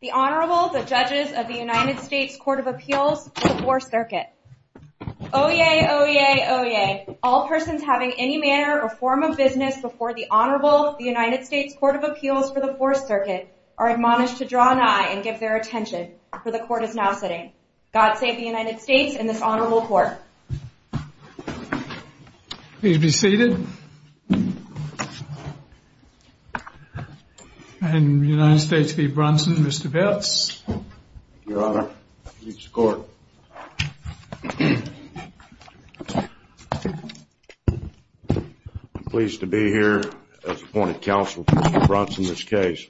The Honorable, the Judges of the United States Court of Appeals for the Fourth Circuit. Oyez! Oyez! Oyez! All persons having any manner or form of business before the Honorable, the United States Court of Appeals for the Fourth Circuit, are admonished to draw an eye and give their attention, for the Court is now sitting. God save the United States and this Honorable Court. Please be seated. And United States v. Brunson, Mr. Belts. Your Honor, Judges of the Court. I'm pleased to be here as appointed counsel for Mr. Brunson's case.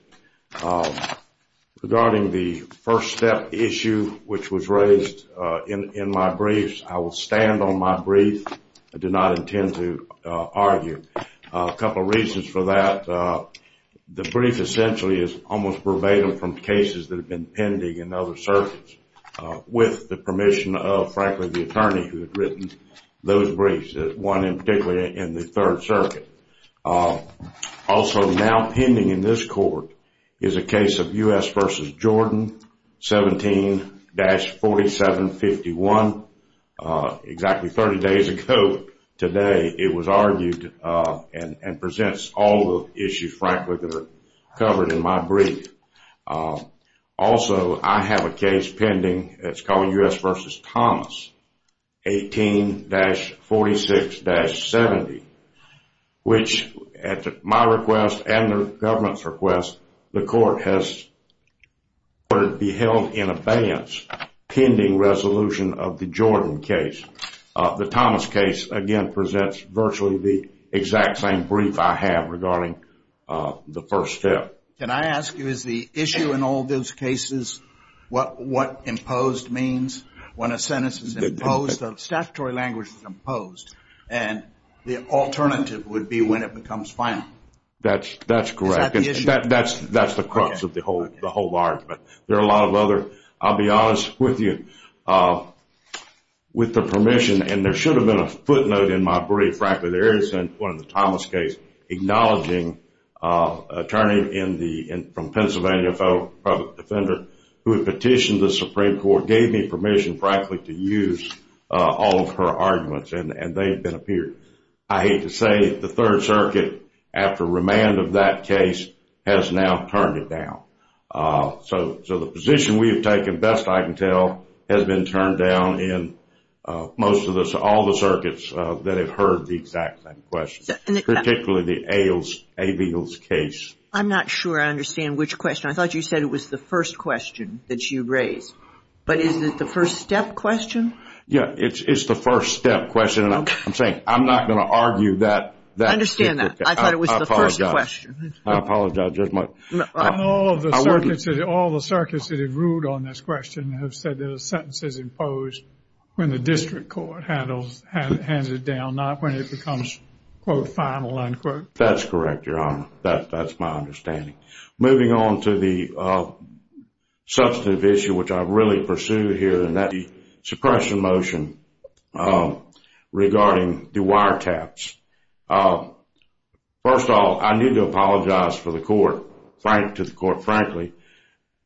Regarding the first step issue which was raised in my briefs, I will stand on my brief. I do not intend to argue. A couple of reasons for that. The brief essentially is almost verbatim from cases that have been pending in other circuits, with the permission of, frankly, the attorney who had written those briefs, one in particular in the Third Circuit. Also now pending in this court is a case of U.S. v. Jordan, 17-4751. Exactly 30 days ago today, it was argued and presents all the issues, frankly, that are covered in my brief. Also, I have a case pending that's called U.S. v. Thomas, 18-46-70. Which at my request and the government's request, the court has ordered it be held in abeyance, pending resolution of the Jordan case. The Thomas case, again, presents virtually the exact same brief I have regarding the first step. Can I ask you, is the issue in all those cases what imposed means? When a sentence is imposed, the statutory language is imposed. And the alternative would be when it becomes final. That's correct. Is that the issue? That's the crux of the whole argument. There are a lot of other. I'll be honest with you. With the permission, and there should have been a footnote in my brief, frankly, there is one in the Thomas case acknowledging an attorney from Pennsylvania, a federal public defender, who had petitioned the Supreme Court, gave me permission, frankly, to use all of her arguments. And they have been appeared. I hate to say it, the Third Circuit, after remand of that case, has now turned it down. So the position we have taken, best I can tell, has been turned down in most of the circuits that have heard the exact same questions, particularly the Abels case. I'm not sure I understand which question. I thought you said it was the first question that you raised. But is it the first step question? Yeah, it's the first step question. I'm saying I'm not going to argue that. I understand that. I thought it was the first question. I apologize. I apologize. All of the circuits that have ruled on this question have said that a sentence is imposed when the district court hands it down, not when it becomes, quote, final, unquote. That's correct, Your Honor. That's my understanding. Moving on to the substantive issue, which I really pursue here, and that's the suppression motion regarding the wiretaps. First of all, I need to apologize to the court, frankly.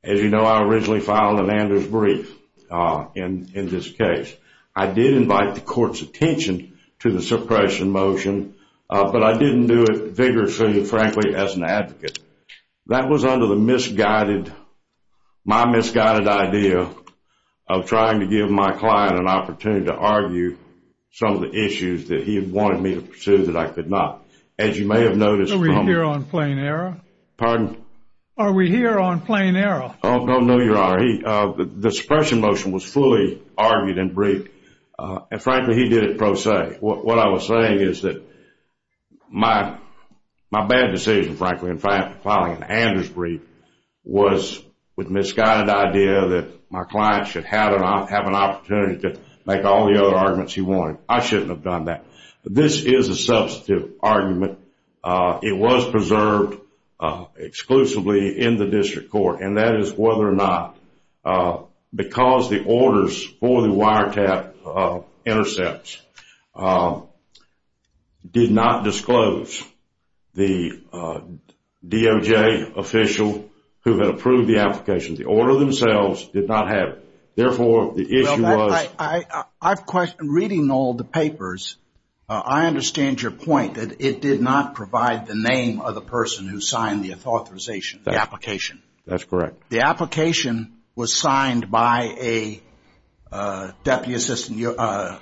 As you know, I originally filed an Anders brief in this case. I did invite the court's attention to the suppression motion, but I didn't do it vigorously, frankly, as an advocate. That was under the misguided, my misguided idea of trying to give my client an opportunity to argue some of the issues that he had wanted me to pursue that I could not. As you may have noticed from the- Are we here on plain error? Pardon? Are we here on plain error? Oh, no, Your Honor. What I was saying is that my bad decision, frankly, in filing an Anders brief was with misguided idea that my client should have an opportunity to make all the other arguments he wanted. I shouldn't have done that. This is a substantive argument. It was preserved exclusively in the district court, and that is whether or not, because the orders for the wiretap intercepts did not disclose the DOJ official who had approved the application. The order themselves did not have it. Therefore, the issue was- Reading all the papers, I understand your point that it did not provide the name of the person who signed the authorization, the application. That's correct. The application was signed by a Deputy Assistant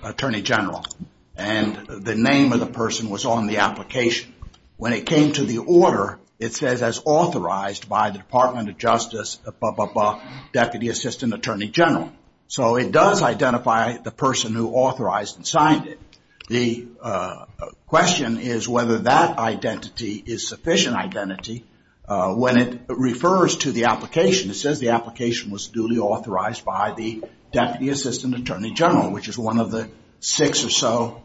Attorney General, and the name of the person was on the application. When it came to the order, it says as authorized by the Department of Justice, blah, blah, blah, Deputy Assistant Attorney General. So it does identify the person who authorized and signed it. The question is whether that identity is sufficient identity. When it refers to the application, it says the application was duly authorized by the Deputy Assistant Attorney General, which is one of the six or so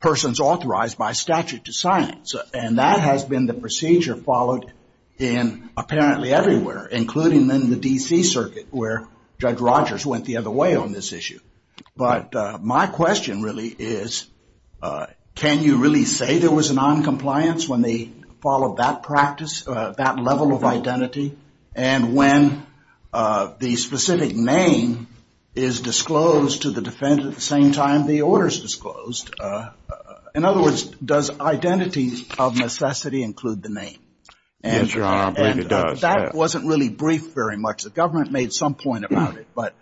persons authorized by statute to sign it. And that has been the procedure followed in apparently everywhere, including in the D.C. Circuit where Judge Rogers went the other way on this issue. But my question really is, can you really say there was a noncompliance when they followed that practice, that level of identity, and when the specific name is disclosed to the defendant at the same time the order is disclosed? In other words, does identity of necessity include the name? Yes, Your Honor, I believe it does. That wasn't really brief very much. The government made some point about it. But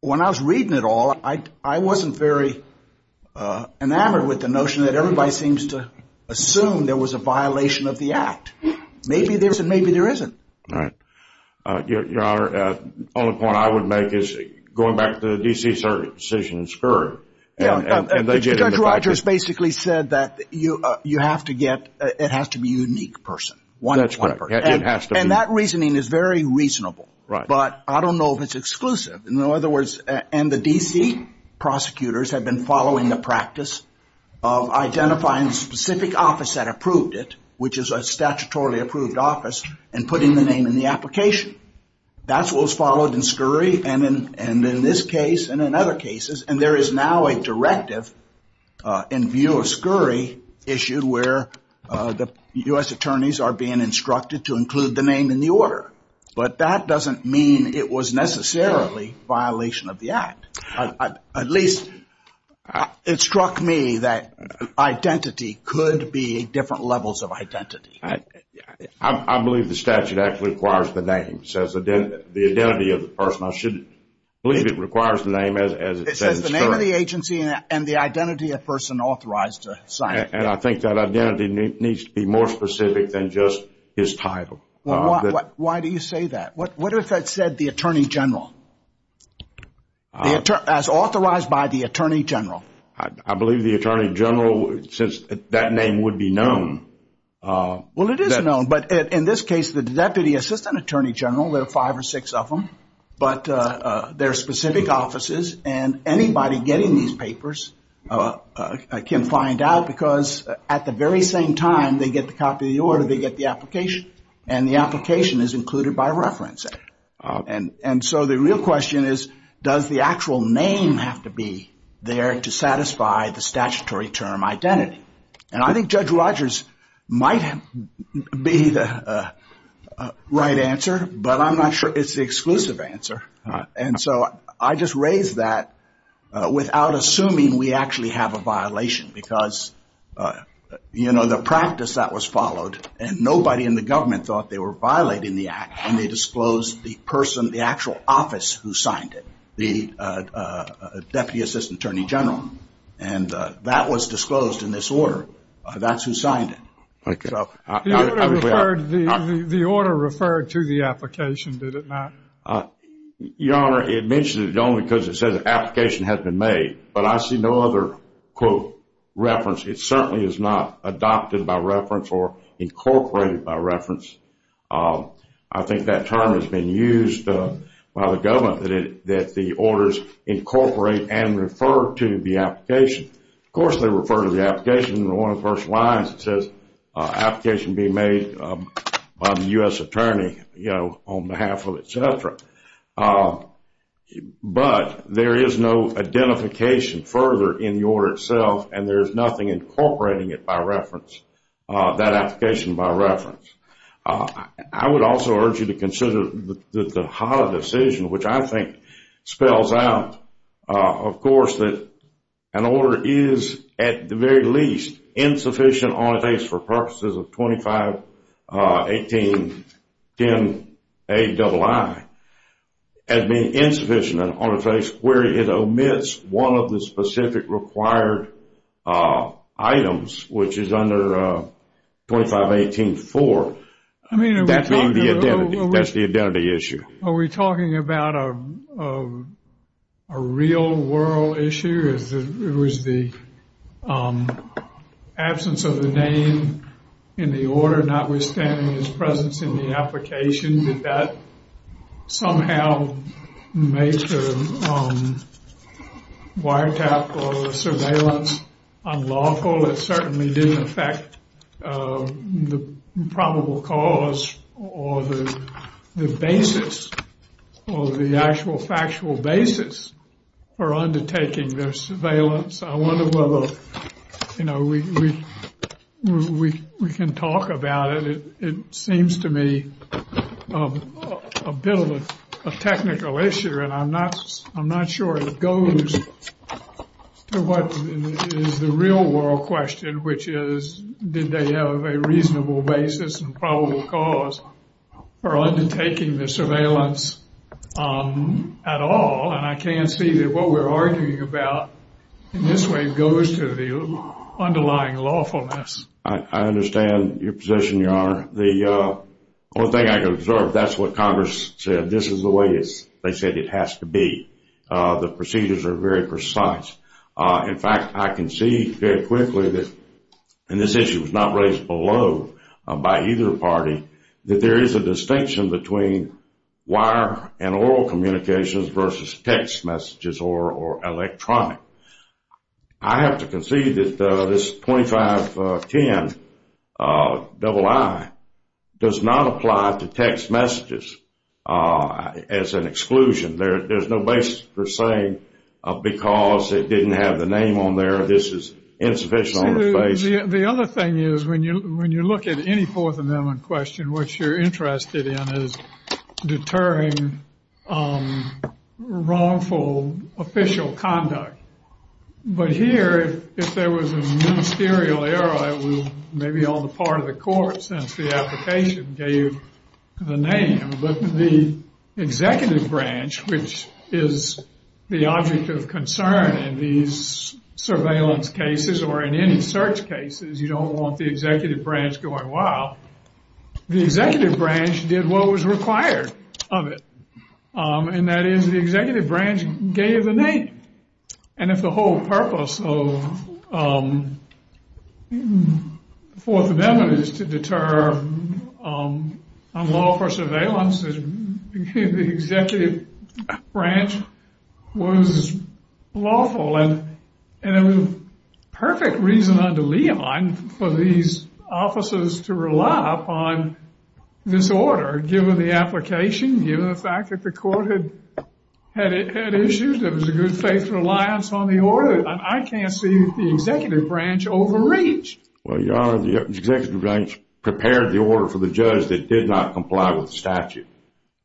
when I was reading it all, I wasn't very enamored with the notion that everybody seems to assume there was a violation of the act. Maybe there is and maybe there isn't. All right. Your Honor, the only point I would make is going back to the D.C. Circuit decision in Skirt. Judge Rogers basically said that you have to get, it has to be a unique person. That's correct. And that reasoning is very reasonable. But I don't know if it's exclusive. In other words, and the D.C. prosecutors have been following the practice of identifying a specific office that approved it, which is a statutorily approved office, and putting the name in the application. That's what was followed in Skurry and in this case and in other cases. And there is now a directive in view of Skurry issued where the U.S. attorneys are being instructed to include the name in the order. But that doesn't mean it was necessarily a violation of the act. At least it struck me that identity could be different levels of identity. I believe the statute actually requires the name. It says the identity of the person. I believe it requires the name as it says in Skurry. It says the name of the agency and the identity of the person authorized to sign it. And I think that identity needs to be more specific than just his title. Why do you say that? What if I said the Attorney General? As authorized by the Attorney General. I believe the Attorney General, since that name would be known. Well, it is known. But in this case, the Deputy Assistant Attorney General, there are five or six of them. But there are specific offices. And anybody getting these papers can find out because at the very same time they get the copy of the order, they get the application. And the application is included by reference. And so the real question is, does the actual name have to be there to satisfy the statutory term identity? And I think Judge Rogers might be the right answer. But I'm not sure it's the exclusive answer. And so I just raised that without assuming we actually have a violation. Because, you know, the practice that was followed, and nobody in the government thought they were violating the act. And they disclosed the person, the actual office who signed it, the Deputy Assistant Attorney General. And that was disclosed in this order. That's who signed it. The order referred to the application, did it not? Your Honor, it mentions it only because it says the application has been made. But I see no other, quote, reference. It certainly is not adopted by reference or incorporated by reference. I think that term has been used by the government that the orders incorporate and refer to the application. Of course they refer to the application in one of the first lines. It says application being made by the U.S. Attorney, you know, on behalf of etc. But there is no identification further in the order itself. And there's nothing incorporating it by reference, that application by reference. I would also urge you to consider that the HOTA decision, which I think spells out, of course, that an order is, at the very least, insufficient on a case for purposes of 251810Aii, has been insufficient on a case where it omits one of the specific required items, which is under 2518-4. That's the identity issue. Are we talking about a real world issue? It was the absence of the name in the order, notwithstanding its presence in the application. Did that somehow make the wiretap or the surveillance unlawful? Well, it certainly didn't affect the probable cause or the basis or the actual factual basis for undertaking the surveillance. I wonder whether, you know, we can talk about it. It seems to me a bit of a technical issue, and I'm not sure it goes to what is the real world question, which is, did they have a reasonable basis and probable cause for undertaking the surveillance at all? And I can't see that what we're arguing about in this way goes to the underlying lawfulness. I understand your position, Your Honor. The only thing I can observe, that's what Congress said. This is the way they said it has to be. The procedures are very precise. In fact, I can see very quickly that, and this issue was not raised below by either party, that there is a distinction between wire and oral communications versus text messages or electronic. I have to concede that this 2510II does not apply to text messages as an exclusion. There's no basis for saying because it didn't have the name on there, this is insufficient on the face. The other thing is, when you look at any Fourth Amendment question, what you're interested in is deterring wrongful official conduct. But here, if there was a ministerial error, it was maybe on the part of the court since the application gave the name. But the executive branch, which is the object of concern in these surveillance cases or in any search cases, you don't want the executive branch going wild. The executive branch did what was required of it. And that is the executive branch gave the name. And if the whole purpose of the Fourth Amendment is to deter unlawful surveillance, the executive branch was lawful. And there was perfect reason under Leon for these offices to rely upon this order, given the application, given the fact that the court had issues. There was a good faith reliance on the order. I can't see the executive branch overreach. Well, Your Honor, the executive branch prepared the order for the judge that did not comply with the statute.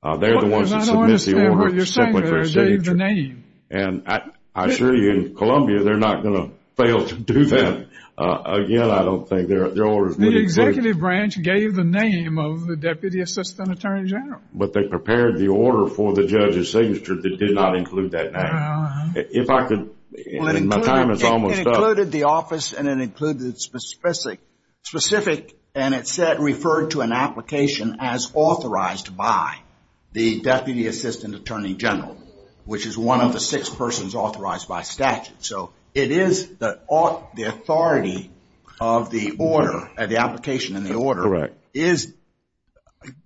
They're the ones that submit the order. I don't understand what you're saying there. They gave the name. And I assure you, in Columbia, they're not going to fail to do that. Again, I don't think their orders would exist. The executive branch gave the name of the deputy assistant attorney general. But they prepared the order for the judge's signature that did not include that name. If I could, my time is almost up. It included the office, and it included specific, and it said, referred to an application as authorized by the deputy assistant attorney general, which is one of the six persons authorized by statute. So it is the authority of the order, the application in the order, is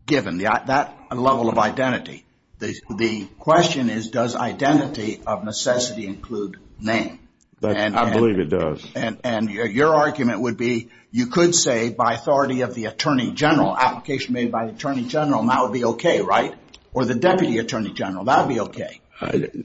given, that level of identity. The question is, does identity of necessity include name? I believe it does. And your argument would be, you could say, by authority of the attorney general, application made by the attorney general, and that would be okay, right? Or the deputy attorney general. That would be okay.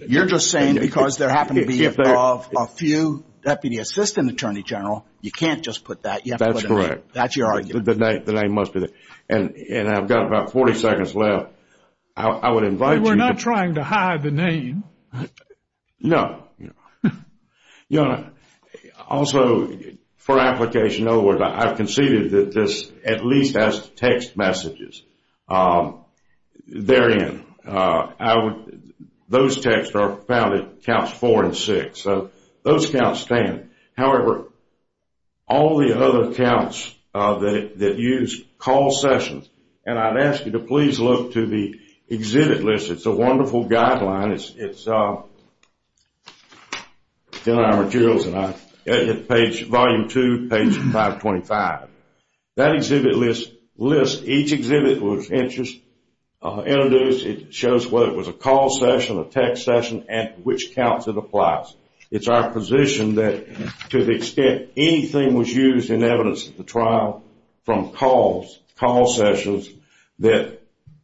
You're just saying because there happened to be a few deputy assistant attorney general, you can't just put that. That's correct. That's your argument. The name must be there. And I've got about 40 seconds left. I would invite you. We're not trying to hide the name. No. Also, for application, I've conceded that this at least has text messages. They're in. Those texts are found at counts four and six. So those counts stand. However, all the other counts that use call sessions, and I'd ask you to please look to the exhibit list. It's a wonderful guideline. It's in our materials, page volume two, page 525. That exhibit list, each exhibit was introduced. It shows whether it was a call session, a text session, and which counts it applies. It's our position that to the extent anything was used in evidence at the trial from calls, call sessions, that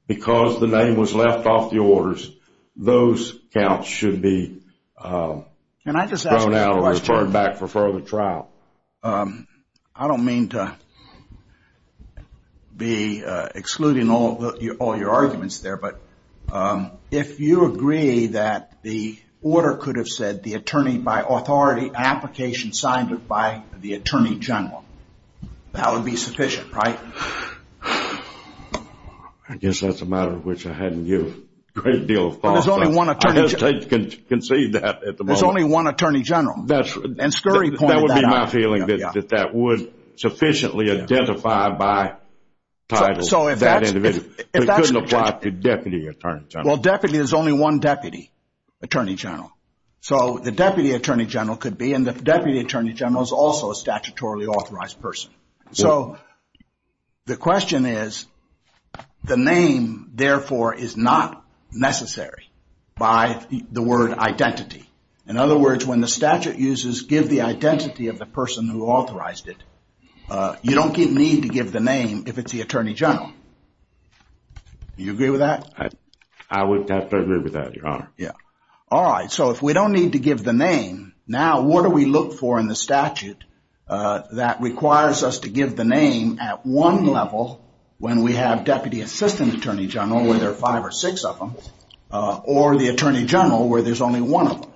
because the name was left off the orders, those counts should be thrown out or referred back for further trial. I don't mean to be excluding all your arguments there, but if you agree that the order could have said the attorney by authority application signed it by the attorney general, that would be sufficient, right? I guess that's a matter which I hadn't given a great deal of thought to. There's only one attorney general. I hesitate to concede that at the moment. There's only one attorney general. That would be my feeling, that that would sufficiently identify by title that individual. It couldn't apply to deputy attorney general. Well, deputy is only one deputy attorney general. So the deputy attorney general could be, and the deputy attorney general is also a statutorily authorized person. So the question is, the name, therefore, is not necessary by the word identity. In other words, when the statute uses give the identity of the person who authorized it, you don't need to give the name if it's the attorney general. Do you agree with that? I would have to agree with that, Your Honor. Yeah. All right. So if we don't need to give the name, now what do we look for in the statute that requires us to give the name at one level when we have deputy assistant attorney general where there are five or six of them or the attorney general where there's only one of them?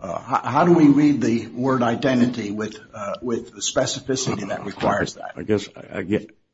How do we read the word identity with the specificity that requires that? I guess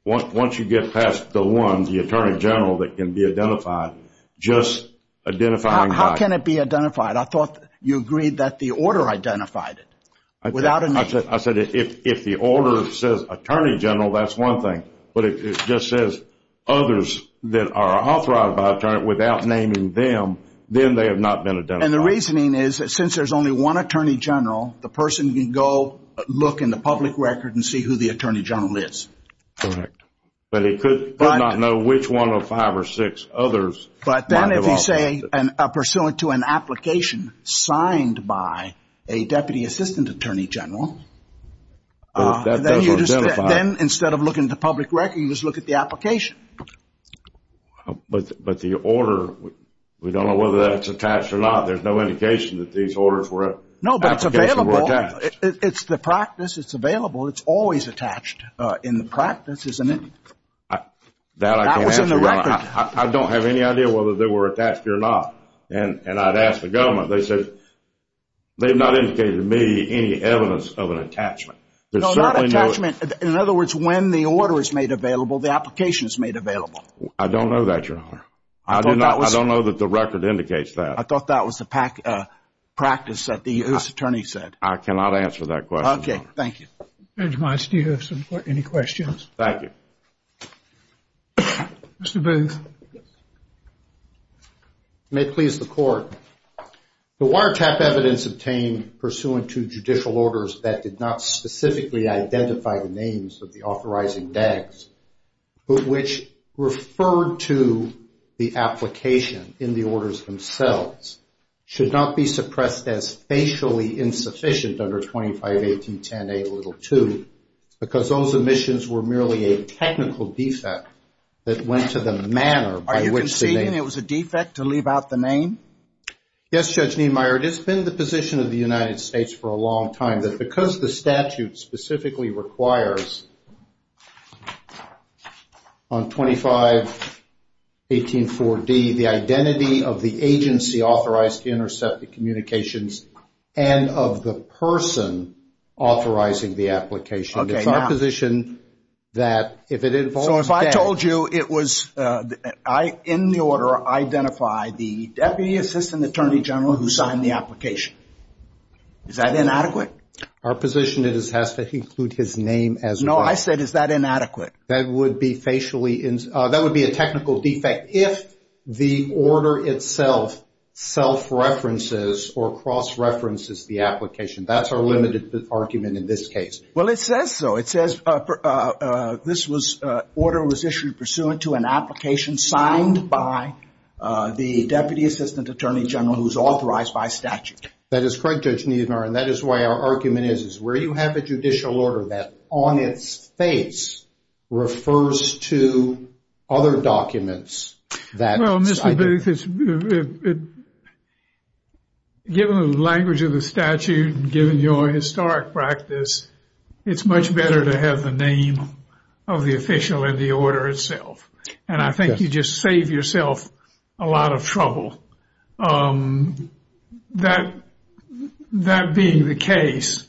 once you get past the one, the attorney general that can be identified, just identifying by. How can it be identified? I thought you agreed that the order identified it without a name. I said if the order says attorney general, that's one thing. But if it just says others that are authorized by attorney without naming them, then they have not been identified. And the reasoning is that since there's only one attorney general, the person can go look in the public record and see who the attorney general is. Correct. But he could not know which one of five or six others. But then if you say pursuant to an application signed by a deputy assistant attorney general, then instead of looking at the public record, you just look at the application. But the order, we don't know whether that's attached or not. There's no indication that these orders were attached. No, but it's available. It's the practice. It's available. It's always attached in the practice, isn't it? That I can't answer. That was in the record. I don't have any idea whether they were attached or not. And I'd ask the government. They said they've not indicated to me any evidence of an attachment. No, not attachment. In other words, when the order is made available, the application is made available. I don't know that, Your Honor. I don't know that the record indicates that. I thought that was the practice that the U.S. attorney said. I cannot answer that question, Your Honor. Okay, thank you. Judge Miles, do you have any questions? Thank you. Mr. Booth. May it please the Court. The wiretap evidence obtained pursuant to judicial orders that did not specifically identify the names of the authorizing DAGs, but which referred to the application in the orders themselves, should not be suppressed as facially insufficient under 2518.10a.2, because those omissions were merely a technical defect that went to the manner by which the name. Are you conceding it was a defect to leave out the name? Yes, Judge Niemeyer. It has been the position of the United States for a long time that because the statute specifically requires on 2518.4d the identity of the agency authorized to intercept the communications and of the person authorizing the application. Okay, now. It's our position that if it involves DAGs. So if I told you it was in the order I identify the Deputy Assistant Attorney General who signed the application, is that inadequate? Our position is it has to include his name as well. No, I said is that inadequate? That would be a technical defect. If the order itself self-references or cross-references the application, that's our limited argument in this case. Well, it says so. It says this order was issued pursuant to an application signed by the Deputy Assistant Attorney General who's authorized by statute. That is correct, Judge Niemeyer. And that is why our argument is where you have a judicial order that on its face refers to other documents. Well, Mr. Booth, given the language of the statute, given your historic practice, it's much better to have the name of the official in the order itself. And I think you just save yourself a lot of trouble. That being the case,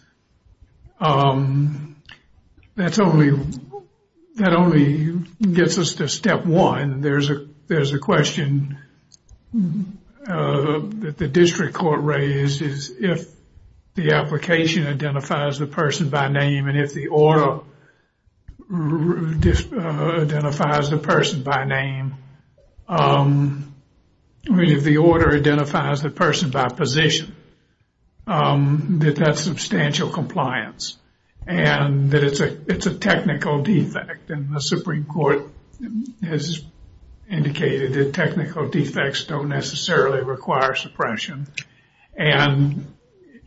that only gets us to step one. There's a question that the district court raised is if the application identifies the person by name and if the order identifies the person by name. I mean, if the order identifies the person by position, that that's substantial compliance and that it's a technical defect. And the Supreme Court has indicated that technical defects don't necessarily require suppression. And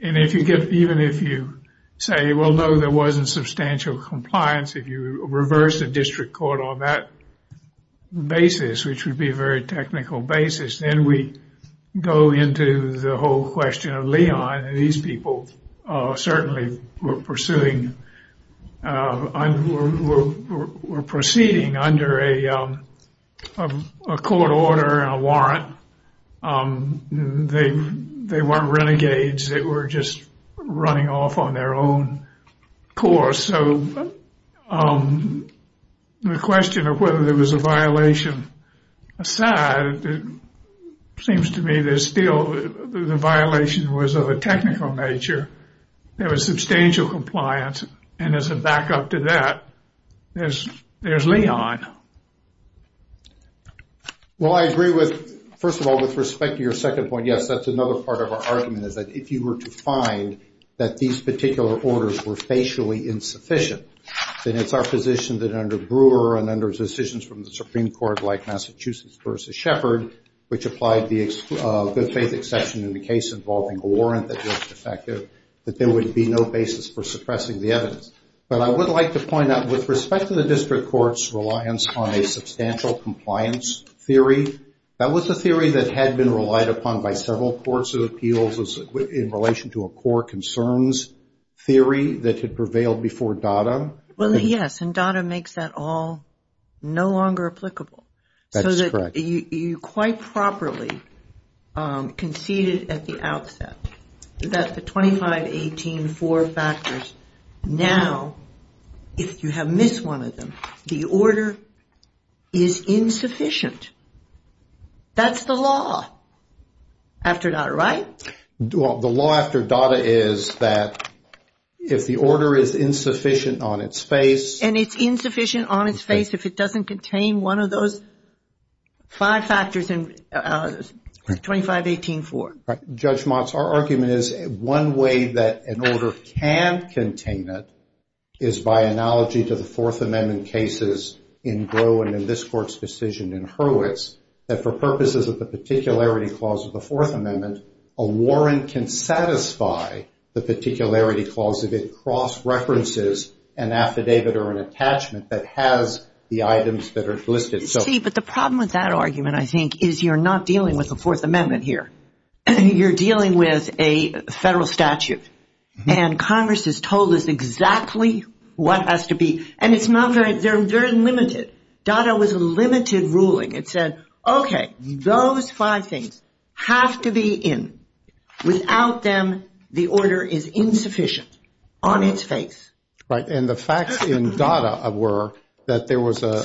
if you get, even if you say, well, no, there wasn't substantial compliance. If you reverse the district court on that basis, which would be a very technical basis, then we go into the whole question of Leon. These people certainly were proceeding under a court order, a warrant. They weren't renegades. They were just running off on their own course. So the question of whether there was a violation aside, it seems to me there's still the violation was of a technical nature. There was substantial compliance. And as a backup to that, there's Leon. Well, I agree with first of all, with respect to your second point. And yes, that's another part of our argument is that if you were to find that these particular orders were facially insufficient, then it's our position that under Brewer and under decisions from the Supreme Court like Massachusetts versus Shepard, which applied the good faith exception in the case involving a warrant that was defective, that there would be no basis for suppressing the evidence. But I would like to point out with respect to the district court's reliance on a substantial compliance theory, that was a theory that had been relied upon by several courts of appeals in relation to a core concerns theory that had prevailed before DADA. Well, yes. And DADA makes that all no longer applicable. That's correct. So you quite properly conceded at the outset that the 25, 18, four factors. Now, if you have missed one of them, the order is insufficient. That's the law after DADA, right? The law after DADA is that if the order is insufficient on its face. And it's insufficient on its face if it doesn't contain one of those five factors in 25, 18, four. Judge Motz, our argument is one way that an order can contain it is by analogy to the Fourth Amendment cases in Gros and in this court's decision in Hurwitz, that for purposes of the particularity clause of the Fourth Amendment, a warrant can satisfy the particularity clause if it cross-references an affidavit or an attachment that has the items that are listed. See, but the problem with that argument, I think, is you're not dealing with the Fourth Amendment here. You're dealing with a federal statute. And Congress has told us exactly what has to be. And it's not very – they're limited. DADA was a limited ruling. It said, okay, those five things have to be in. Without them, the order is insufficient on its face. Right. And the facts in DADA were that there was a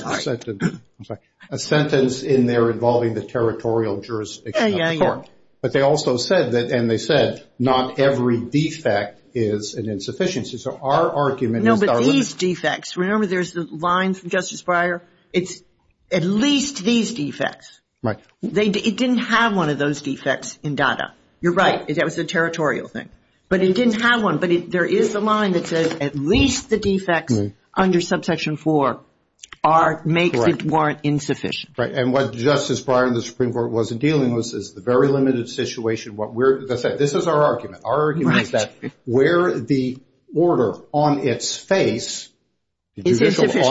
sentence in there involving the territorial jurisdiction of the court. Yeah, yeah, yeah. But they also said that – and they said not every defect is an insufficiency. So our argument is – No, but these defects – remember there's the line from Justice Breyer? It's at least these defects. Right. It didn't have one of those defects in DADA. You're right. That was a territorial thing. But it didn't have one. No, but there is a line that says at least the defects under Subsection 4 are – makes it warrant insufficient. Right. And what Justice Breyer and the Supreme Court wasn't dealing with is the very limited situation. This is our argument. Our argument is that where the order on its face – Is insufficient.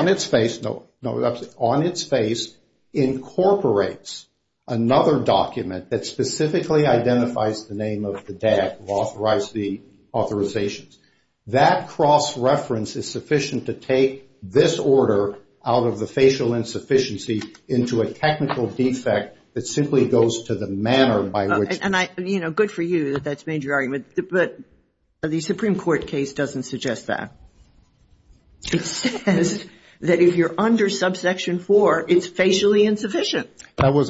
No, on its face incorporates another document that specifically identifies the name of the DAD, authorize the authorizations. That cross-reference is sufficient to take this order out of the facial insufficiency into a technical defect that simply goes to the manner by which – And I – you know, good for you that that's made your argument. But the Supreme Court case doesn't suggest that. It says that if you're under Subsection 4, it's facially insufficient. That was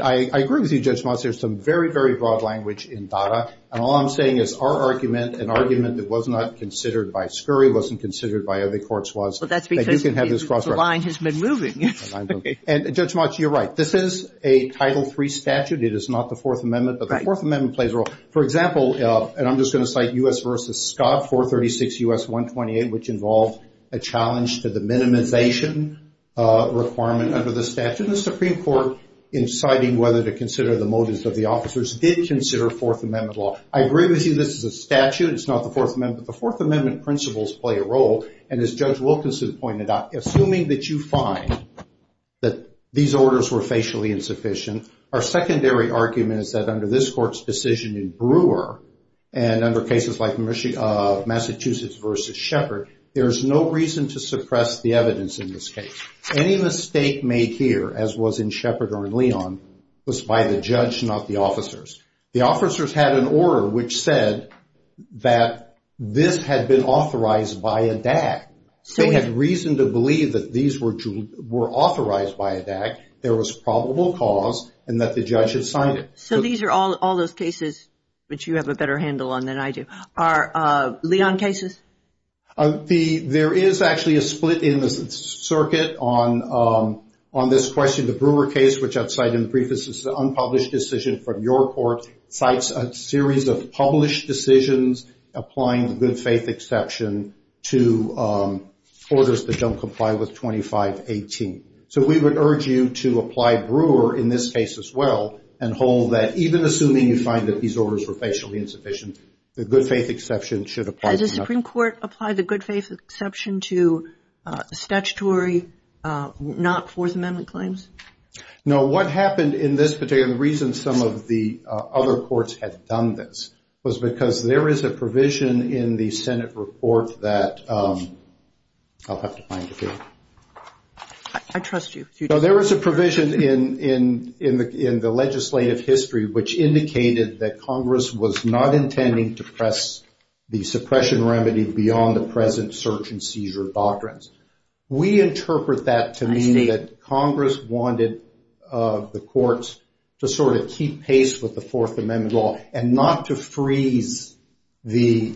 – I agree with you, Judge Motz. There's some very, very broad language in DADA. And all I'm saying is our argument, an argument that was not considered by Scurry, wasn't considered by other courts, was that you can have this cross-reference. Well, that's because the line has been moving. And, Judge Motz, you're right. This is a Title III statute. It is not the Fourth Amendment. Right. But the Fourth Amendment plays a role. For example, and I'm just going to cite U.S. v. Scott, 436 U.S. 128, which involved a challenge to the minimization requirement under the statute. The Supreme Court, in deciding whether to consider the motives of the officers, did consider Fourth Amendment law. I agree with you this is a statute. It's not the Fourth Amendment. But the Fourth Amendment principles play a role. And as Judge Wilkinson pointed out, assuming that you find that these orders were facially insufficient, our secondary argument is that under this court's decision in Brewer, and under cases like Massachusetts v. Shepard, there's no reason to suppress the evidence in this case. Any mistake made here, as was in Shepard or in Leon, was by the judge, not the officers. The officers had an order which said that this had been authorized by a DAC. They had reason to believe that these were authorized by a DAC. There was probable cause, and that the judge had signed it. So these are all those cases which you have a better handle on than I do. Are Leon cases? There is actually a split in the circuit on this question. The Brewer case, which I've cited in brief, this is an unpublished decision from your court, cites a series of published decisions applying the good faith exception to orders that don't comply with 2518. So we would urge you to apply Brewer in this case as well, and hold that even assuming you find that these orders were facially insufficient, the good faith exception should apply. Has the Supreme Court applied the good faith exception to statutory, not Fourth Amendment claims? No. What happened in this particular, the reason some of the other courts had done this, was because there is a provision in the Senate report that, I'll have to find it here. I trust you. There is a provision in the legislative history which indicated that Congress was not intending to press the suppression remedy beyond the present search and seizure doctrines. We interpret that to mean that Congress wanted the courts to sort of keep pace with the Fourth Amendment law and not to freeze the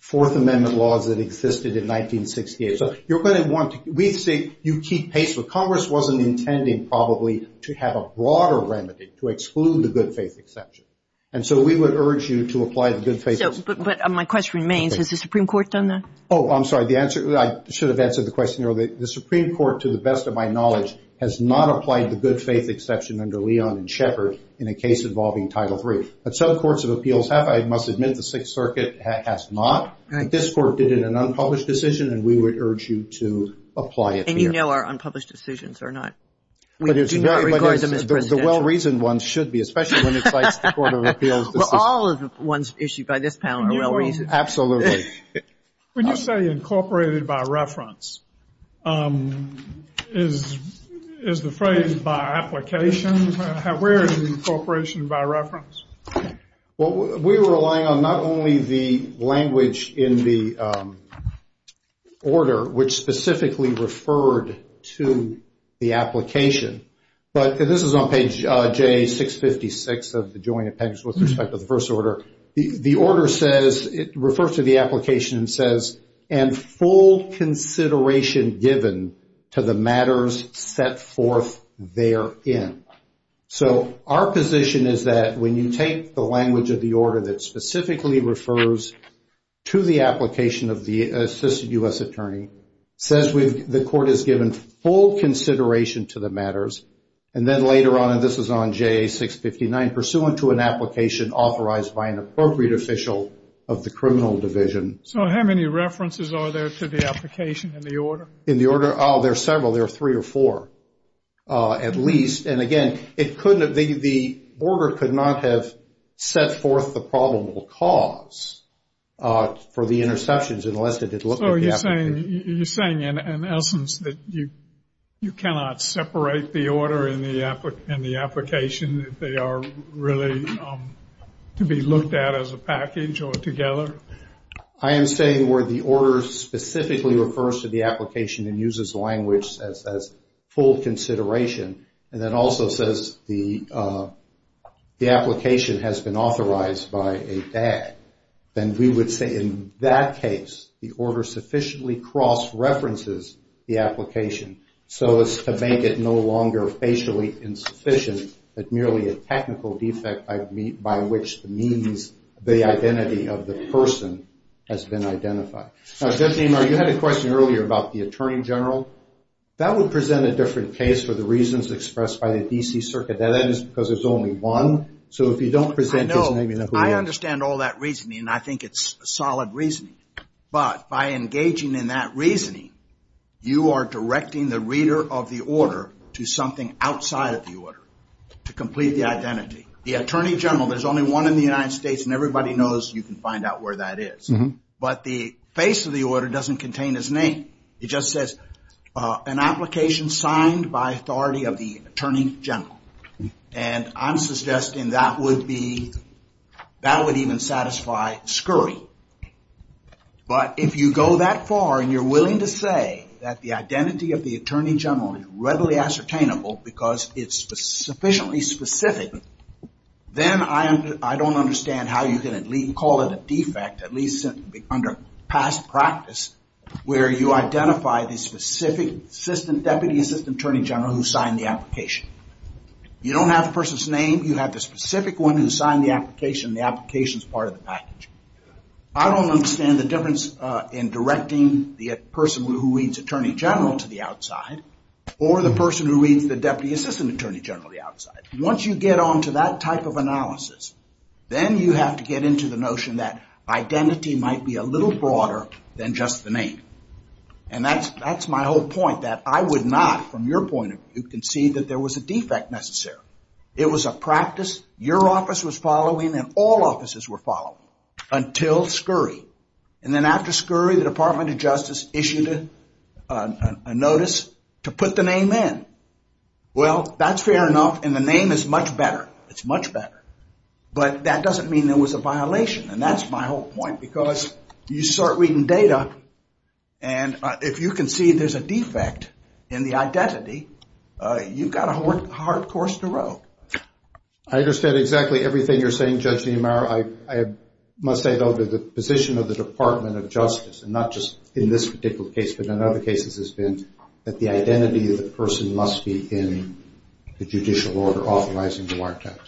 Fourth Amendment laws that existed in 1968. So you're going to want to, we say you keep pace, but Congress wasn't intending probably to have a broader remedy to exclude the good faith exception. And so we would urge you to apply the good faith exception. But my question remains, has the Supreme Court done that? Oh, I'm sorry. The answer, I should have answered the question earlier. The Supreme Court, to the best of my knowledge, has not applied the good faith exception under Leon and Shepard in a case involving Title III. But some courts of appeals have. I must admit the Sixth Circuit has not. This Court did it in an unpublished decision, and we would urge you to apply it here. And you know our unpublished decisions are not, we do not regard them as presidential. The well-reasoned ones should be, especially when it cites the Court of Appeals. Well, all of the ones issued by this panel are well-reasoned. Absolutely. When you say incorporated by reference, is the phrase by application? Where is the incorporation by reference? Well, we're relying on not only the language in the order, which specifically referred to the application, but this is on page J656 of the Joint Appendix with respect to the first order. The order says, it refers to the application and says, and full consideration given to the matters set forth therein. So our position is that when you take the language of the order that specifically refers to the application of the assisted U.S. attorney, says the court has given full consideration to the matters, and then later on, and this is on J659, pursuant to an application authorized by an appropriate official of the criminal division. So how many references are there to the application in the order? In the order? Oh, there are several. There are three or four at least. And again, the order could not have set forth the probable cause for the interceptions unless it had looked at the application. So you're saying in essence that you cannot separate the order and the application, that they are really to be looked at as a package or together? I am saying where the order specifically refers to the application and uses language that says full consideration, and then also says the application has been authorized by a DAG. Then we would say in that case, the order sufficiently cross-references the application, so as to make it no longer facially insufficient, but merely a technical defect by which the means, the identity of the person has been identified. Now, Judge Niemeyer, you had a question earlier about the attorney general. That would present a different case for the reasons expressed by the D.C. Circuit. Now, that is because there's only one. I understand all that reasoning, and I think it's solid reasoning. But by engaging in that reasoning, you are directing the reader of the order to something outside of the order to complete the identity. The attorney general, there's only one in the United States, and everybody knows you can find out where that is. But the face of the order doesn't contain his name. It just says, an application signed by authority of the attorney general. And I'm suggesting that would even satisfy Scurry. But if you go that far and you're willing to say that the identity of the attorney general is readily ascertainable because it's sufficiently specific, then I don't understand how you can at least call it a defect, at least under past practice, where you identify the specific deputy assistant attorney general who signed the application. You don't have the person's name. You have the specific one who signed the application, and the application's part of the package. I don't understand the difference in directing the person who reads attorney general to the outside or the person who reads the deputy assistant attorney general to the outside. Once you get on to that type of analysis, then you have to get into the notion that identity might be a little broader than just the name. And that's my whole point, that I would not, from your point of view, concede that there was a defect necessary. It was a practice. Your office was following and all offices were following until Scurry. And then after Scurry, the Department of Justice issued a notice to put the name in. Well, that's fair enough, and the name is much better. It's much better. But that doesn't mean there was a violation. And that's my whole point, because you start reading data, and if you concede there's a defect in the identity, you've got a hard course to row. I understand exactly everything you're saying, Judge Niemeyer. I must say, though, that the position of the Department of Justice, and not just in this particular case, but in other cases has been that the identity of the person must be in the judicial order authorizing the markdowns.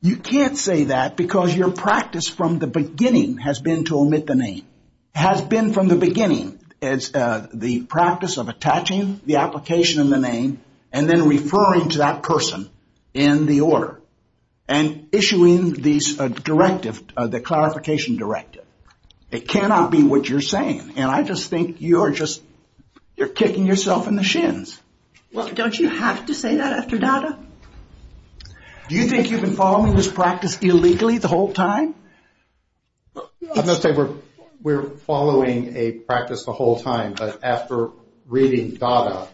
You can't say that because your practice from the beginning has been to omit the name. It has been from the beginning. It's the practice of attaching the application and the name and then referring to that person in the order and issuing these directives, the clarification directive. It cannot be what you're saying. And I just think you're kicking yourself in the shins. Well, don't you have to say that after data? Do you think you've been following this practice illegally the whole time? I'm not saying we're following a practice the whole time, but after reading data,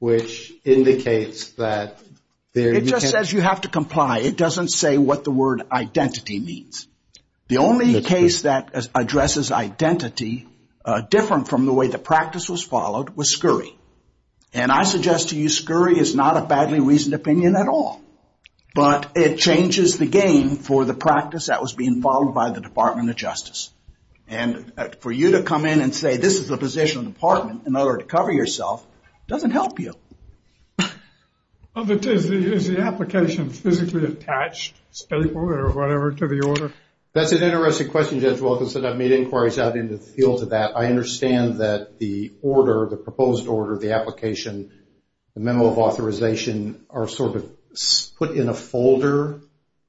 which indicates that there is... It just says you have to comply. It doesn't say what the word identity means. The only case that addresses identity different from the way the practice was followed was Scurry. And I suggest to you Scurry is not a badly reasoned opinion at all. But it changes the game for the practice that was being followed by the Department of Justice. And for you to come in and say this is the position of the department in order to cover yourself doesn't help you. Is the application physically attached to the order? That's an interesting question, Judge Wilkinson. I've made inquiries out into the field to that. I understand that the order, the proposed order, the application, the memo of authorization are sort of put in a folder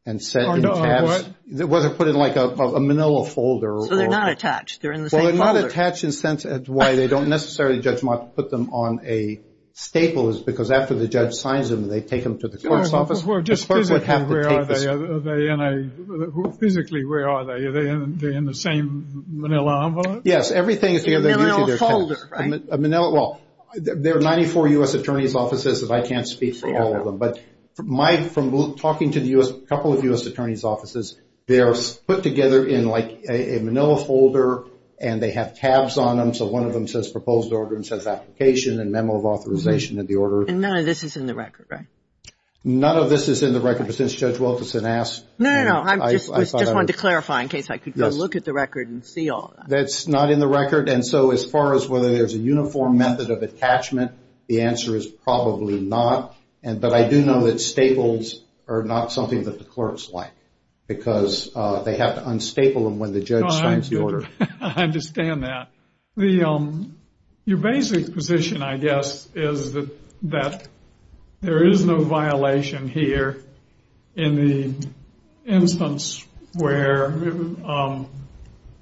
and set in tabs. Whether put in like a manila folder or... So they're not attached. They're in the same folder. Well, they're not attached in the sense that why they don't necessarily, Judge Mott, put them on a staple is because after the judge signs them, they take them to the clerk's office. Well, just physically, where are they? Physically, where are they? Are they in the same manila envelope? Yes, everything is together. Manila folder, right? Well, there are 94 U.S. attorney's offices and I can't speak for all of them. But from talking to a couple of U.S. attorney's offices, they are put together in like a manila folder and they have tabs on them. So one of them says proposed order and says application and memo of authorization of the order. And none of this is in the record, right? None of this is in the record, but since Judge Wilkinson asked... No, no, no. That's not in the record. And so as far as whether there's a uniform method of attachment, the answer is probably not. But I do know that staples are not something that the clerks like because they have to unstaple them when the judge signs the order. I understand that. Your basic position, I guess, is that there is no violation here in the instance where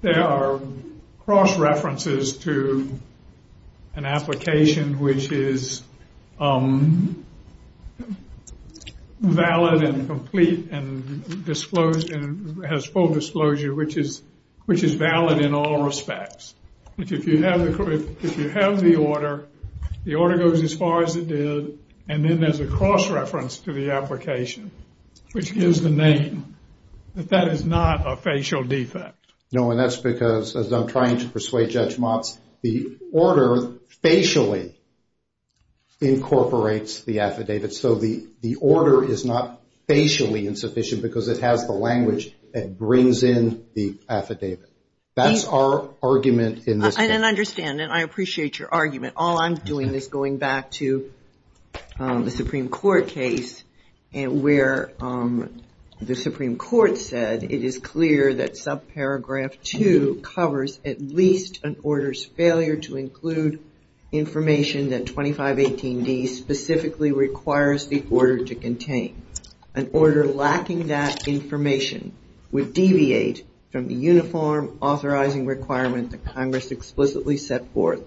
there are cross-references to an application which is valid and complete and has full disclosure, which is valid in all respects. If you have the order, the order goes as far as it did and then there's a cross-reference to the application, which gives the name, that that is not a facial defect. No, and that's because, as I'm trying to persuade Judge Motz, the order facially incorporates the affidavit. So the order is not facially insufficient because it has the language that brings in the affidavit. That's our argument in this case. And I understand, and I appreciate your argument. All I'm doing is going back to the Supreme Court case where the Supreme Court said it is clear that subparagraph 2 covers at least an order's failure to include information that 2518D specifically requires the order to contain. An order lacking that information would deviate from the uniform authorizing requirement that Congress explicitly set forth,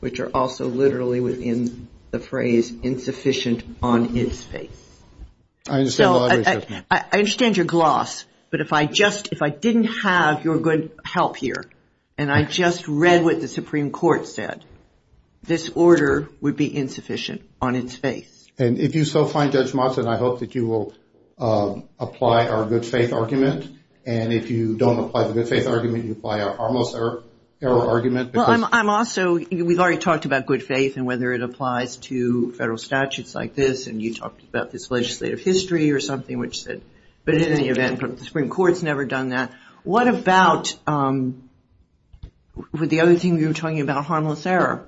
which are also literally within the phrase insufficient on its face. I understand your gloss, but if I didn't have your good help here and I just read what the Supreme Court said, this order would be insufficient on its face. And if you so find, Judge Motz, and I hope that you will apply our good faith argument, and if you don't apply the good faith argument, you apply our harmless error argument. Well, I'm also, we've already talked about good faith and whether it applies to federal statutes like this, and you talked about this legislative history or something, but in any event, the Supreme Court's never done that. What about the other thing you were talking about, harmless error?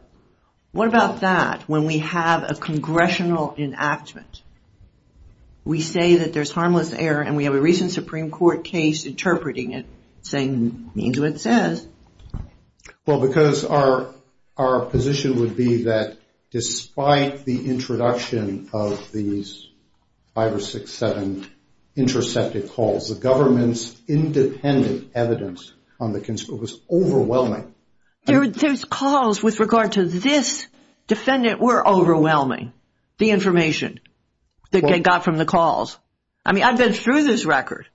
What about that? When we have a congressional enactment, we say that there's harmless error and we have a recent Supreme Court case interpreting it saying it means what it says. Well, because our position would be that despite the introduction of these five or six, seven intercepted calls, the government's independent evidence on the, it was overwhelming. Those calls with regard to this defendant were overwhelming, the information that they got from the calls. I mean, I've been through this record.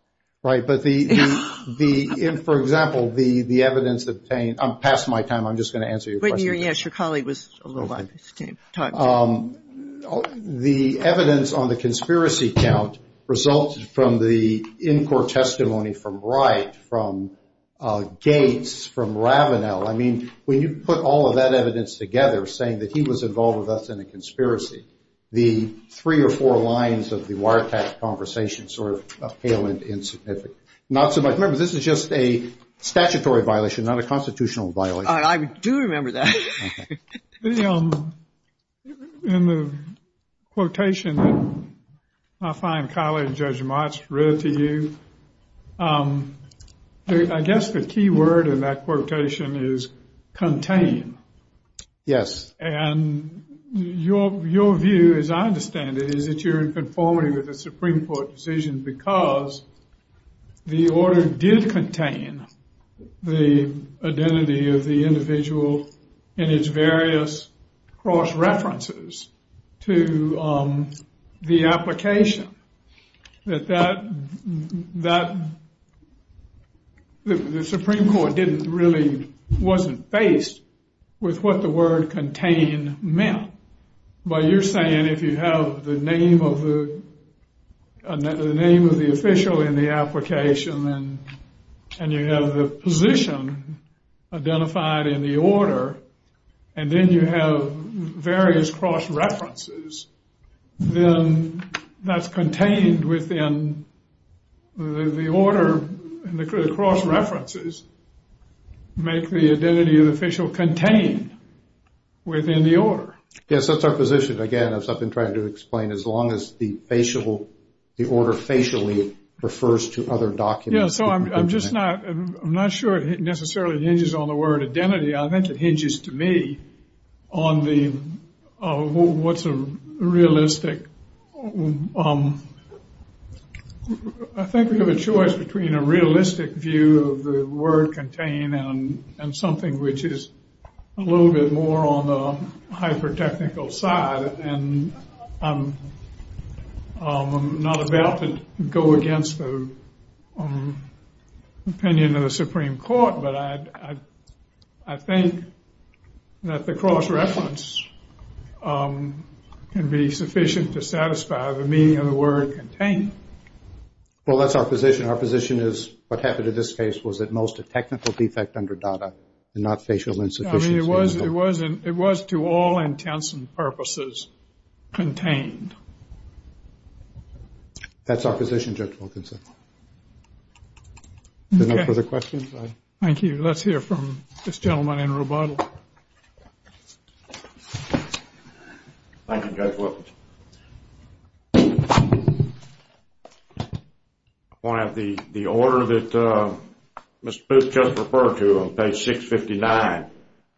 Right, but the, for example, the evidence obtained, I'm past my time, I'm just going to answer your question. Yes, your colleague was a little behind his time. The evidence on the conspiracy count resulted from the in-court testimony from Wright, from Gates, from Ravenel. I mean, when you put all of that evidence together, saying that he was involved with us in a conspiracy, the three or four lines of the wiretap conversation sort of pale and insignificant. Not so much. Remember, this is just a statutory violation, not a constitutional violation. I do remember that. In the quotation that my fine colleague, Judge March, read to you, I guess the key word in that quotation is contain. Yes. And your view, as I understand it, is that you're in conformity with the Supreme Court decision because the order did contain the identity of the individual and its various cross-references to the application. That that, the Supreme Court didn't really, wasn't faced with what the word contain meant. But you're saying if you have the name of the, the name of the official in the application and you have the position identified in the order, and then you have various cross-references, then that's contained within the order and the cross-references make the identity of the official contained within the order. Yes, that's our position. But again, as I've been trying to explain, as long as the order facially refers to other documents. Yes, so I'm just not sure it necessarily hinges on the word identity. I think it hinges to me on the, what's a realistic, I think we have a choice between a realistic view of the word contain and something which is a little bit more on the hyper-technical side. And I'm not about to go against the opinion of the Supreme Court, but I think that the cross-reference can be sufficient to satisfy the meaning of the word contain. Well, that's our position. Our position is what happened in this case was at most a technical defect under DADA and not facial insufficiency. It was to all intents and purposes contained. That's our position, Judge Wilkinson. Are there no further questions? Thank you. Let's hear from this gentleman in rebuttal. Thank you, Judge Wilkinson. I want to have the order that Mr. Booth just referred to on page 659.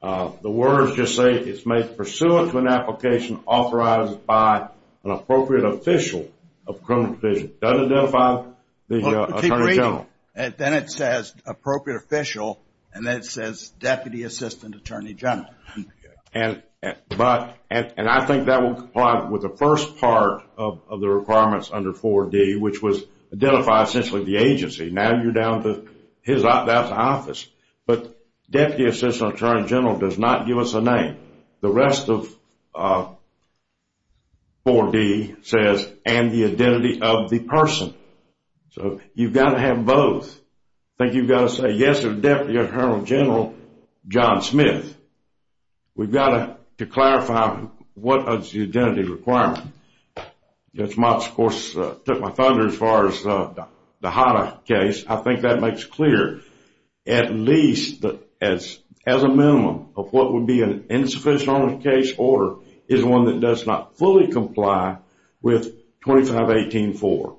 The words just say it's made pursuant to an application authorized by an appropriate official of criminal division. Does it identify the Attorney General? Then it says appropriate official, and then it says Deputy Assistant Attorney General. And I think that will comply with the first part of the requirements under 4D, which was identify essentially the agency. Now you're down to his office. But Deputy Assistant Attorney General does not give us a name. The rest of 4D says, and the identity of the person. So you've got to have both. I think you've got to say, yes, there's Deputy Attorney General John Smith. We've got to clarify what is the identity requirement. Judge Motz, of course, took my thunder as far as the HADA case. I think that makes clear at least as a minimum of what would be an insufficient case order is one that does not fully comply with 2518-4.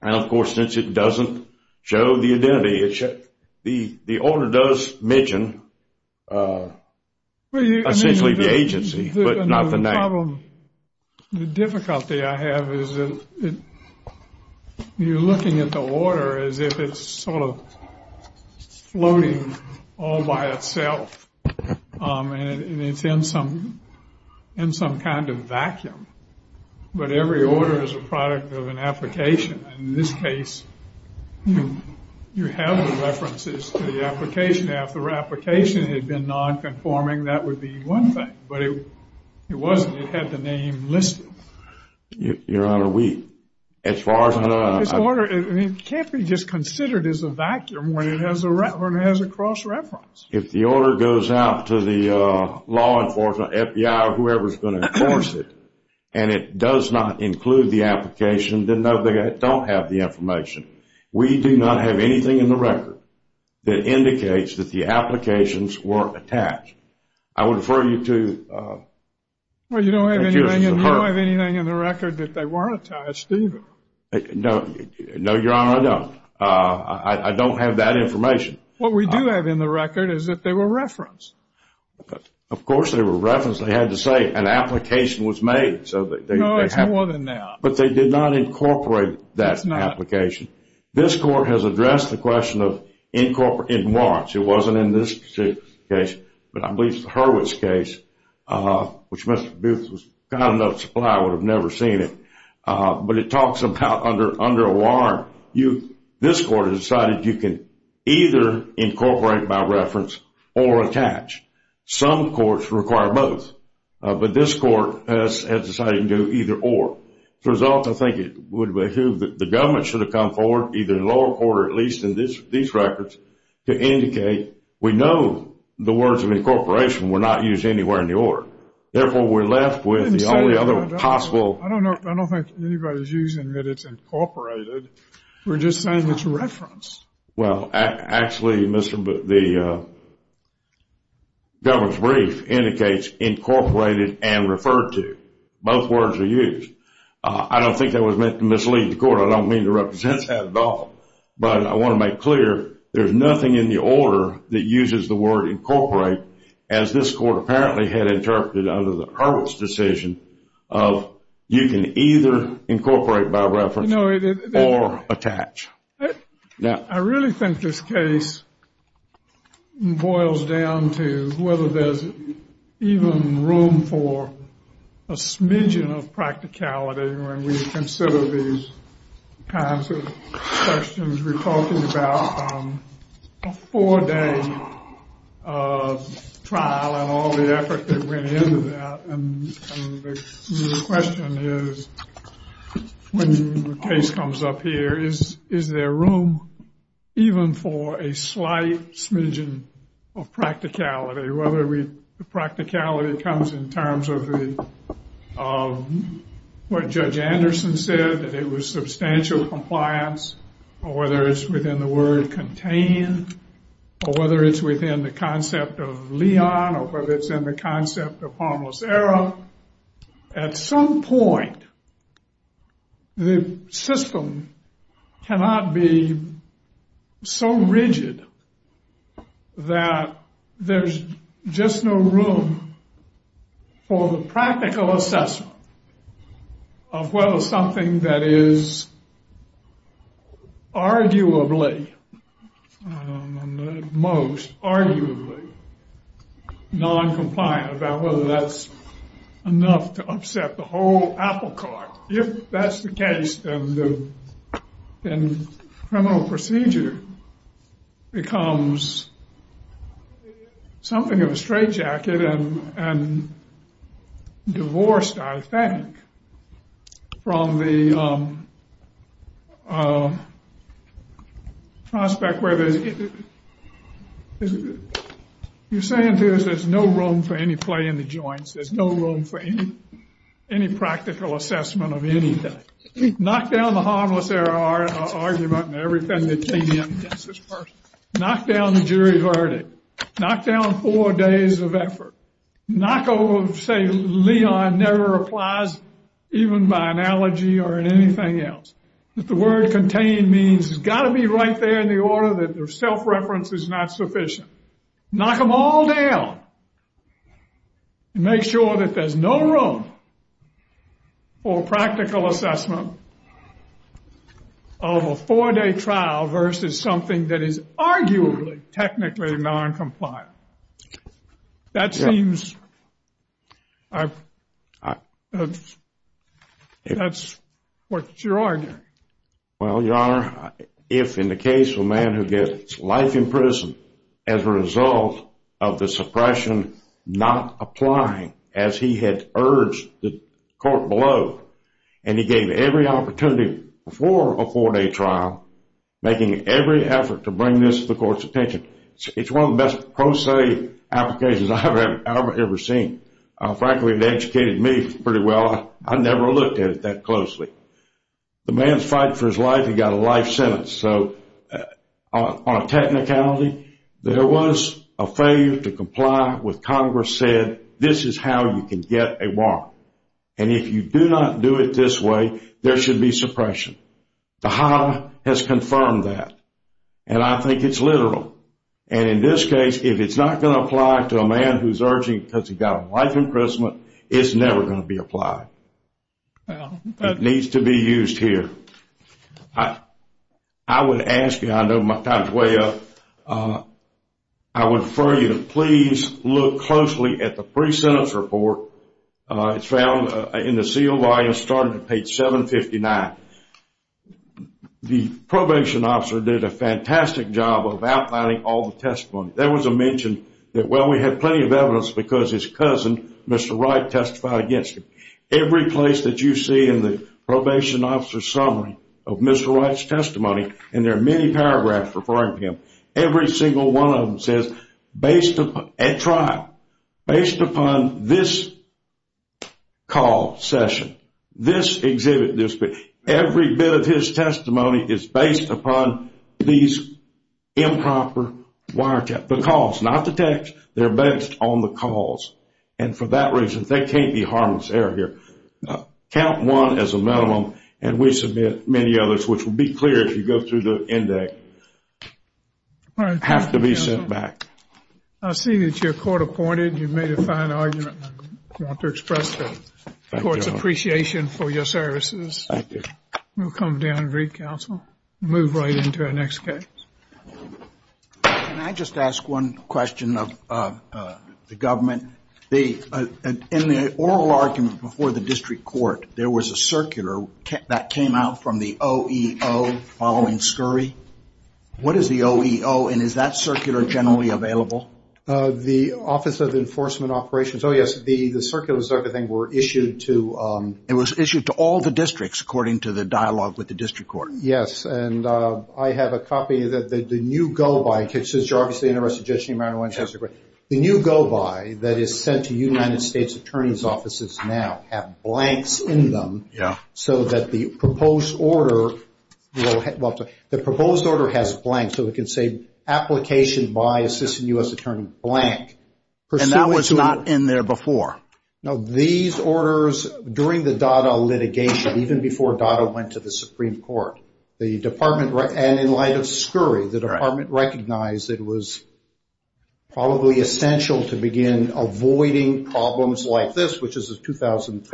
And of course, since it doesn't show the identity, the order does mention essentially the agency, but not the name. The difficulty I have is that you're looking at the order as if it's sort of floating all by itself. And it's in some kind of vacuum. But every order is a product of an application. In this case, you have the references to the application. If the application had been non-conforming, that would be one thing. But it wasn't. It had the name listed. Your Honor, we, as far as I know, This order can't be just considered as a vacuum when it has a cross-reference. If the order goes out to the law enforcement, FBI, or whoever is going to enforce it, and it does not include the application, then no, they don't have the information. We do not have anything in the record that indicates that the applications were attached. I would refer you to Well, you don't have anything in the record that they weren't attached, do you? No, Your Honor, I don't. I don't have that information. What we do have in the record is that they were referenced. Of course they were referenced. They had to say an application was made. No, it's more than that. But they did not incorporate that application. This Court has addressed the question of incorporating warrants. It wasn't in this case, but I believe it's the Hurwitz case, which Mr. Booth was kind enough to say I would have never seen it. But it talks about under a warrant. This Court has decided you can either incorporate by reference or attach. Some courts require both. But this Court has decided to do either or. As a result, I think it would behoove that the government should have come forward, either in the lower court or at least in these records, to indicate we know the words of incorporation were not used anywhere in the order. Therefore, we're left with the only other possible I don't think anybody's using that it's incorporated. We're just saying it's referenced. Well, actually, the government's brief indicates incorporated and referred to. Both words are used. I don't think that was meant to mislead the Court. I don't mean to represent that at all. But I want to make clear there's nothing in the order that uses the word incorporate, as this Court apparently had interpreted under the Hurwitz decision, of you can either incorporate by reference or attach. I really think this case boils down to whether there's even room for a smidgen of practicality when we consider these kinds of questions. We're talking about a four-day trial and all the effort that went into that. And the question is, when the case comes up here, is there room even for a slight smidgen of practicality, whether the practicality comes in terms of what Judge Anderson said, that it was substantial compliance, or whether it's within the word contain, or whether it's within the concept of Leon, or whether it's in the concept of harmless error. At some point, the system cannot be so rigid that there's just no room for the practical assessment of whether something that is arguably, most arguably, noncompliant, about whether that's enough to upset the whole apple cart. If that's the case, then criminal procedure becomes something of a straitjacket and divorced, I think, from the prospect where there's, you're saying there's no room for any play in the joints, there's no room for any practical assessment of anything. Knock down the harmless error argument and everything that came in against this person. Knock down the jury verdict. Knock down four days of effort. Knock over, say, Leon never applies even by analogy or in anything else. The word contain means it's got to be right there in the order that their self-reference is not sufficient. Knock them all down. Make sure that there's no room for practical assessment of a four-day trial versus something that is arguably technically noncompliant. That seems, that's what you're arguing. Well, Your Honor, if in the case of a man who gets life in prison as a result of the suppression not applying as he had urged the court below, and he gave every opportunity before a four-day trial, making every effort to bring this to the court's attention, it's one of the best pro se applications I've ever seen. Frankly, it educated me pretty well. I never looked at it that closely. The man's fighting for his life. He got a life sentence. So on a technicality, there was a failure to comply with Congress said, this is how you can get a warrant. And if you do not do it this way, there should be suppression. The Hobb has confirmed that. And I think it's literal. And in this case, if it's not going to apply to a man who's urging because he got a life imprisonment, it's never going to be applied. It needs to be used here. I would ask you, I know my time's way up, I would refer you to please look closely at the pre-sentence report. It's found in the sealed volume starting at page 759. The probation officer did a fantastic job of outlining all the testimony. There was a mention that, well, we had plenty of evidence because his cousin, Mr. Wright, testified against him. Every place that you see in the probation officer's summary of Mr. Wright's testimony, and there are many paragraphs referring to him, every single one of them says, based upon a trial, based upon this call session, this exhibit, every bit of his testimony is based upon these improper wiretaps. The calls, not the text, they're based on the calls. And for that reason, there can't be harmless error here. Count one as a minimum, and we submit many others, which will be clear if you go through the index, have to be sent back. I see that you're court-appointed. You've made a fine argument. I want to express the court's appreciation for your services. Thank you. We'll come down and read counsel. Move right into our next case. Can I just ask one question of the government? In the oral argument before the district court, there was a circular that came out from the OEO following Scurry. What is the OEO, and is that circular generally available? The Office of Enforcement Operations. Oh, yes. The circulars and everything were issued to ‑‑ It was issued to all the districts, according to the dialogue with the district court. Yes. And I have a copy that the new go‑by, since you're obviously interested in Judiciary Matters, the new go‑by that is sent to United States attorneys' offices now have blanks in them so that the proposed order will have ‑‑ well, the proposed order has blanks so it can say, application by assistant U.S. attorney, blank. And that was not in there before? No, these orders, during the Dada litigation, even before Dada went to the Supreme Court, the department ‑‑ and in light of Scurry, the department recognized it was probably essential to begin avoiding problems like this, which is a 2013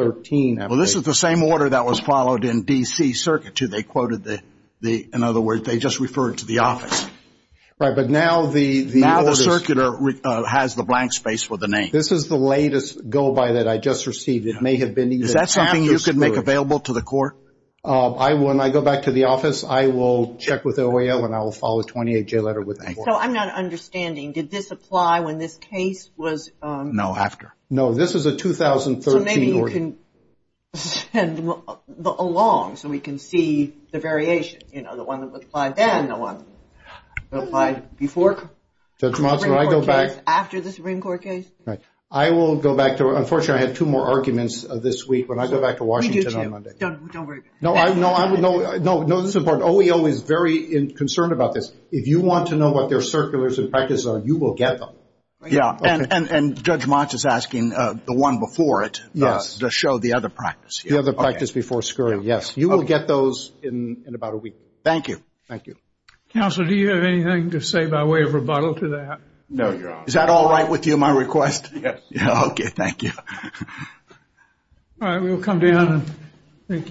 application. Well, this is the same order that was followed in D.C. Circuit, too. They quoted the ‑‑ in other words, they just referred to the office. Right, but now the ‑‑ Now the circular has the blank space for the name. This is the latest go‑by that I just received. It may have been even after Scurry. Is that something you could make available to the court? When I go back to the office, I will check with OEO and I will follow the 28J letter with the court. So I'm not understanding. Did this apply when this case was ‑‑ No, after. No, this is a 2013 order. So maybe you can send them along so we can see the variation. You know, the one that applied then, the one that applied before. Judge Motz, when I go back ‑‑ After the Supreme Court case. Right. I will go back to ‑‑ unfortunately, I have two more arguments this week. When I go back to Washington on Monday. We do, too. Don't worry. No, this is important. OEO is very concerned about this. If you want to know what their circulars and practices are, you will get them. And Judge Motz is asking the one before it to show the other practice. The other practice before Scurry, yes. You will get those in about a week. Thank you. Thank you. Counsel, do you have anything to say by way of rebuttal to that? No, Your Honor. Is that all right with you, my request? Yes. Okay. Thank you. All right. We will come down. Thank you, counsel.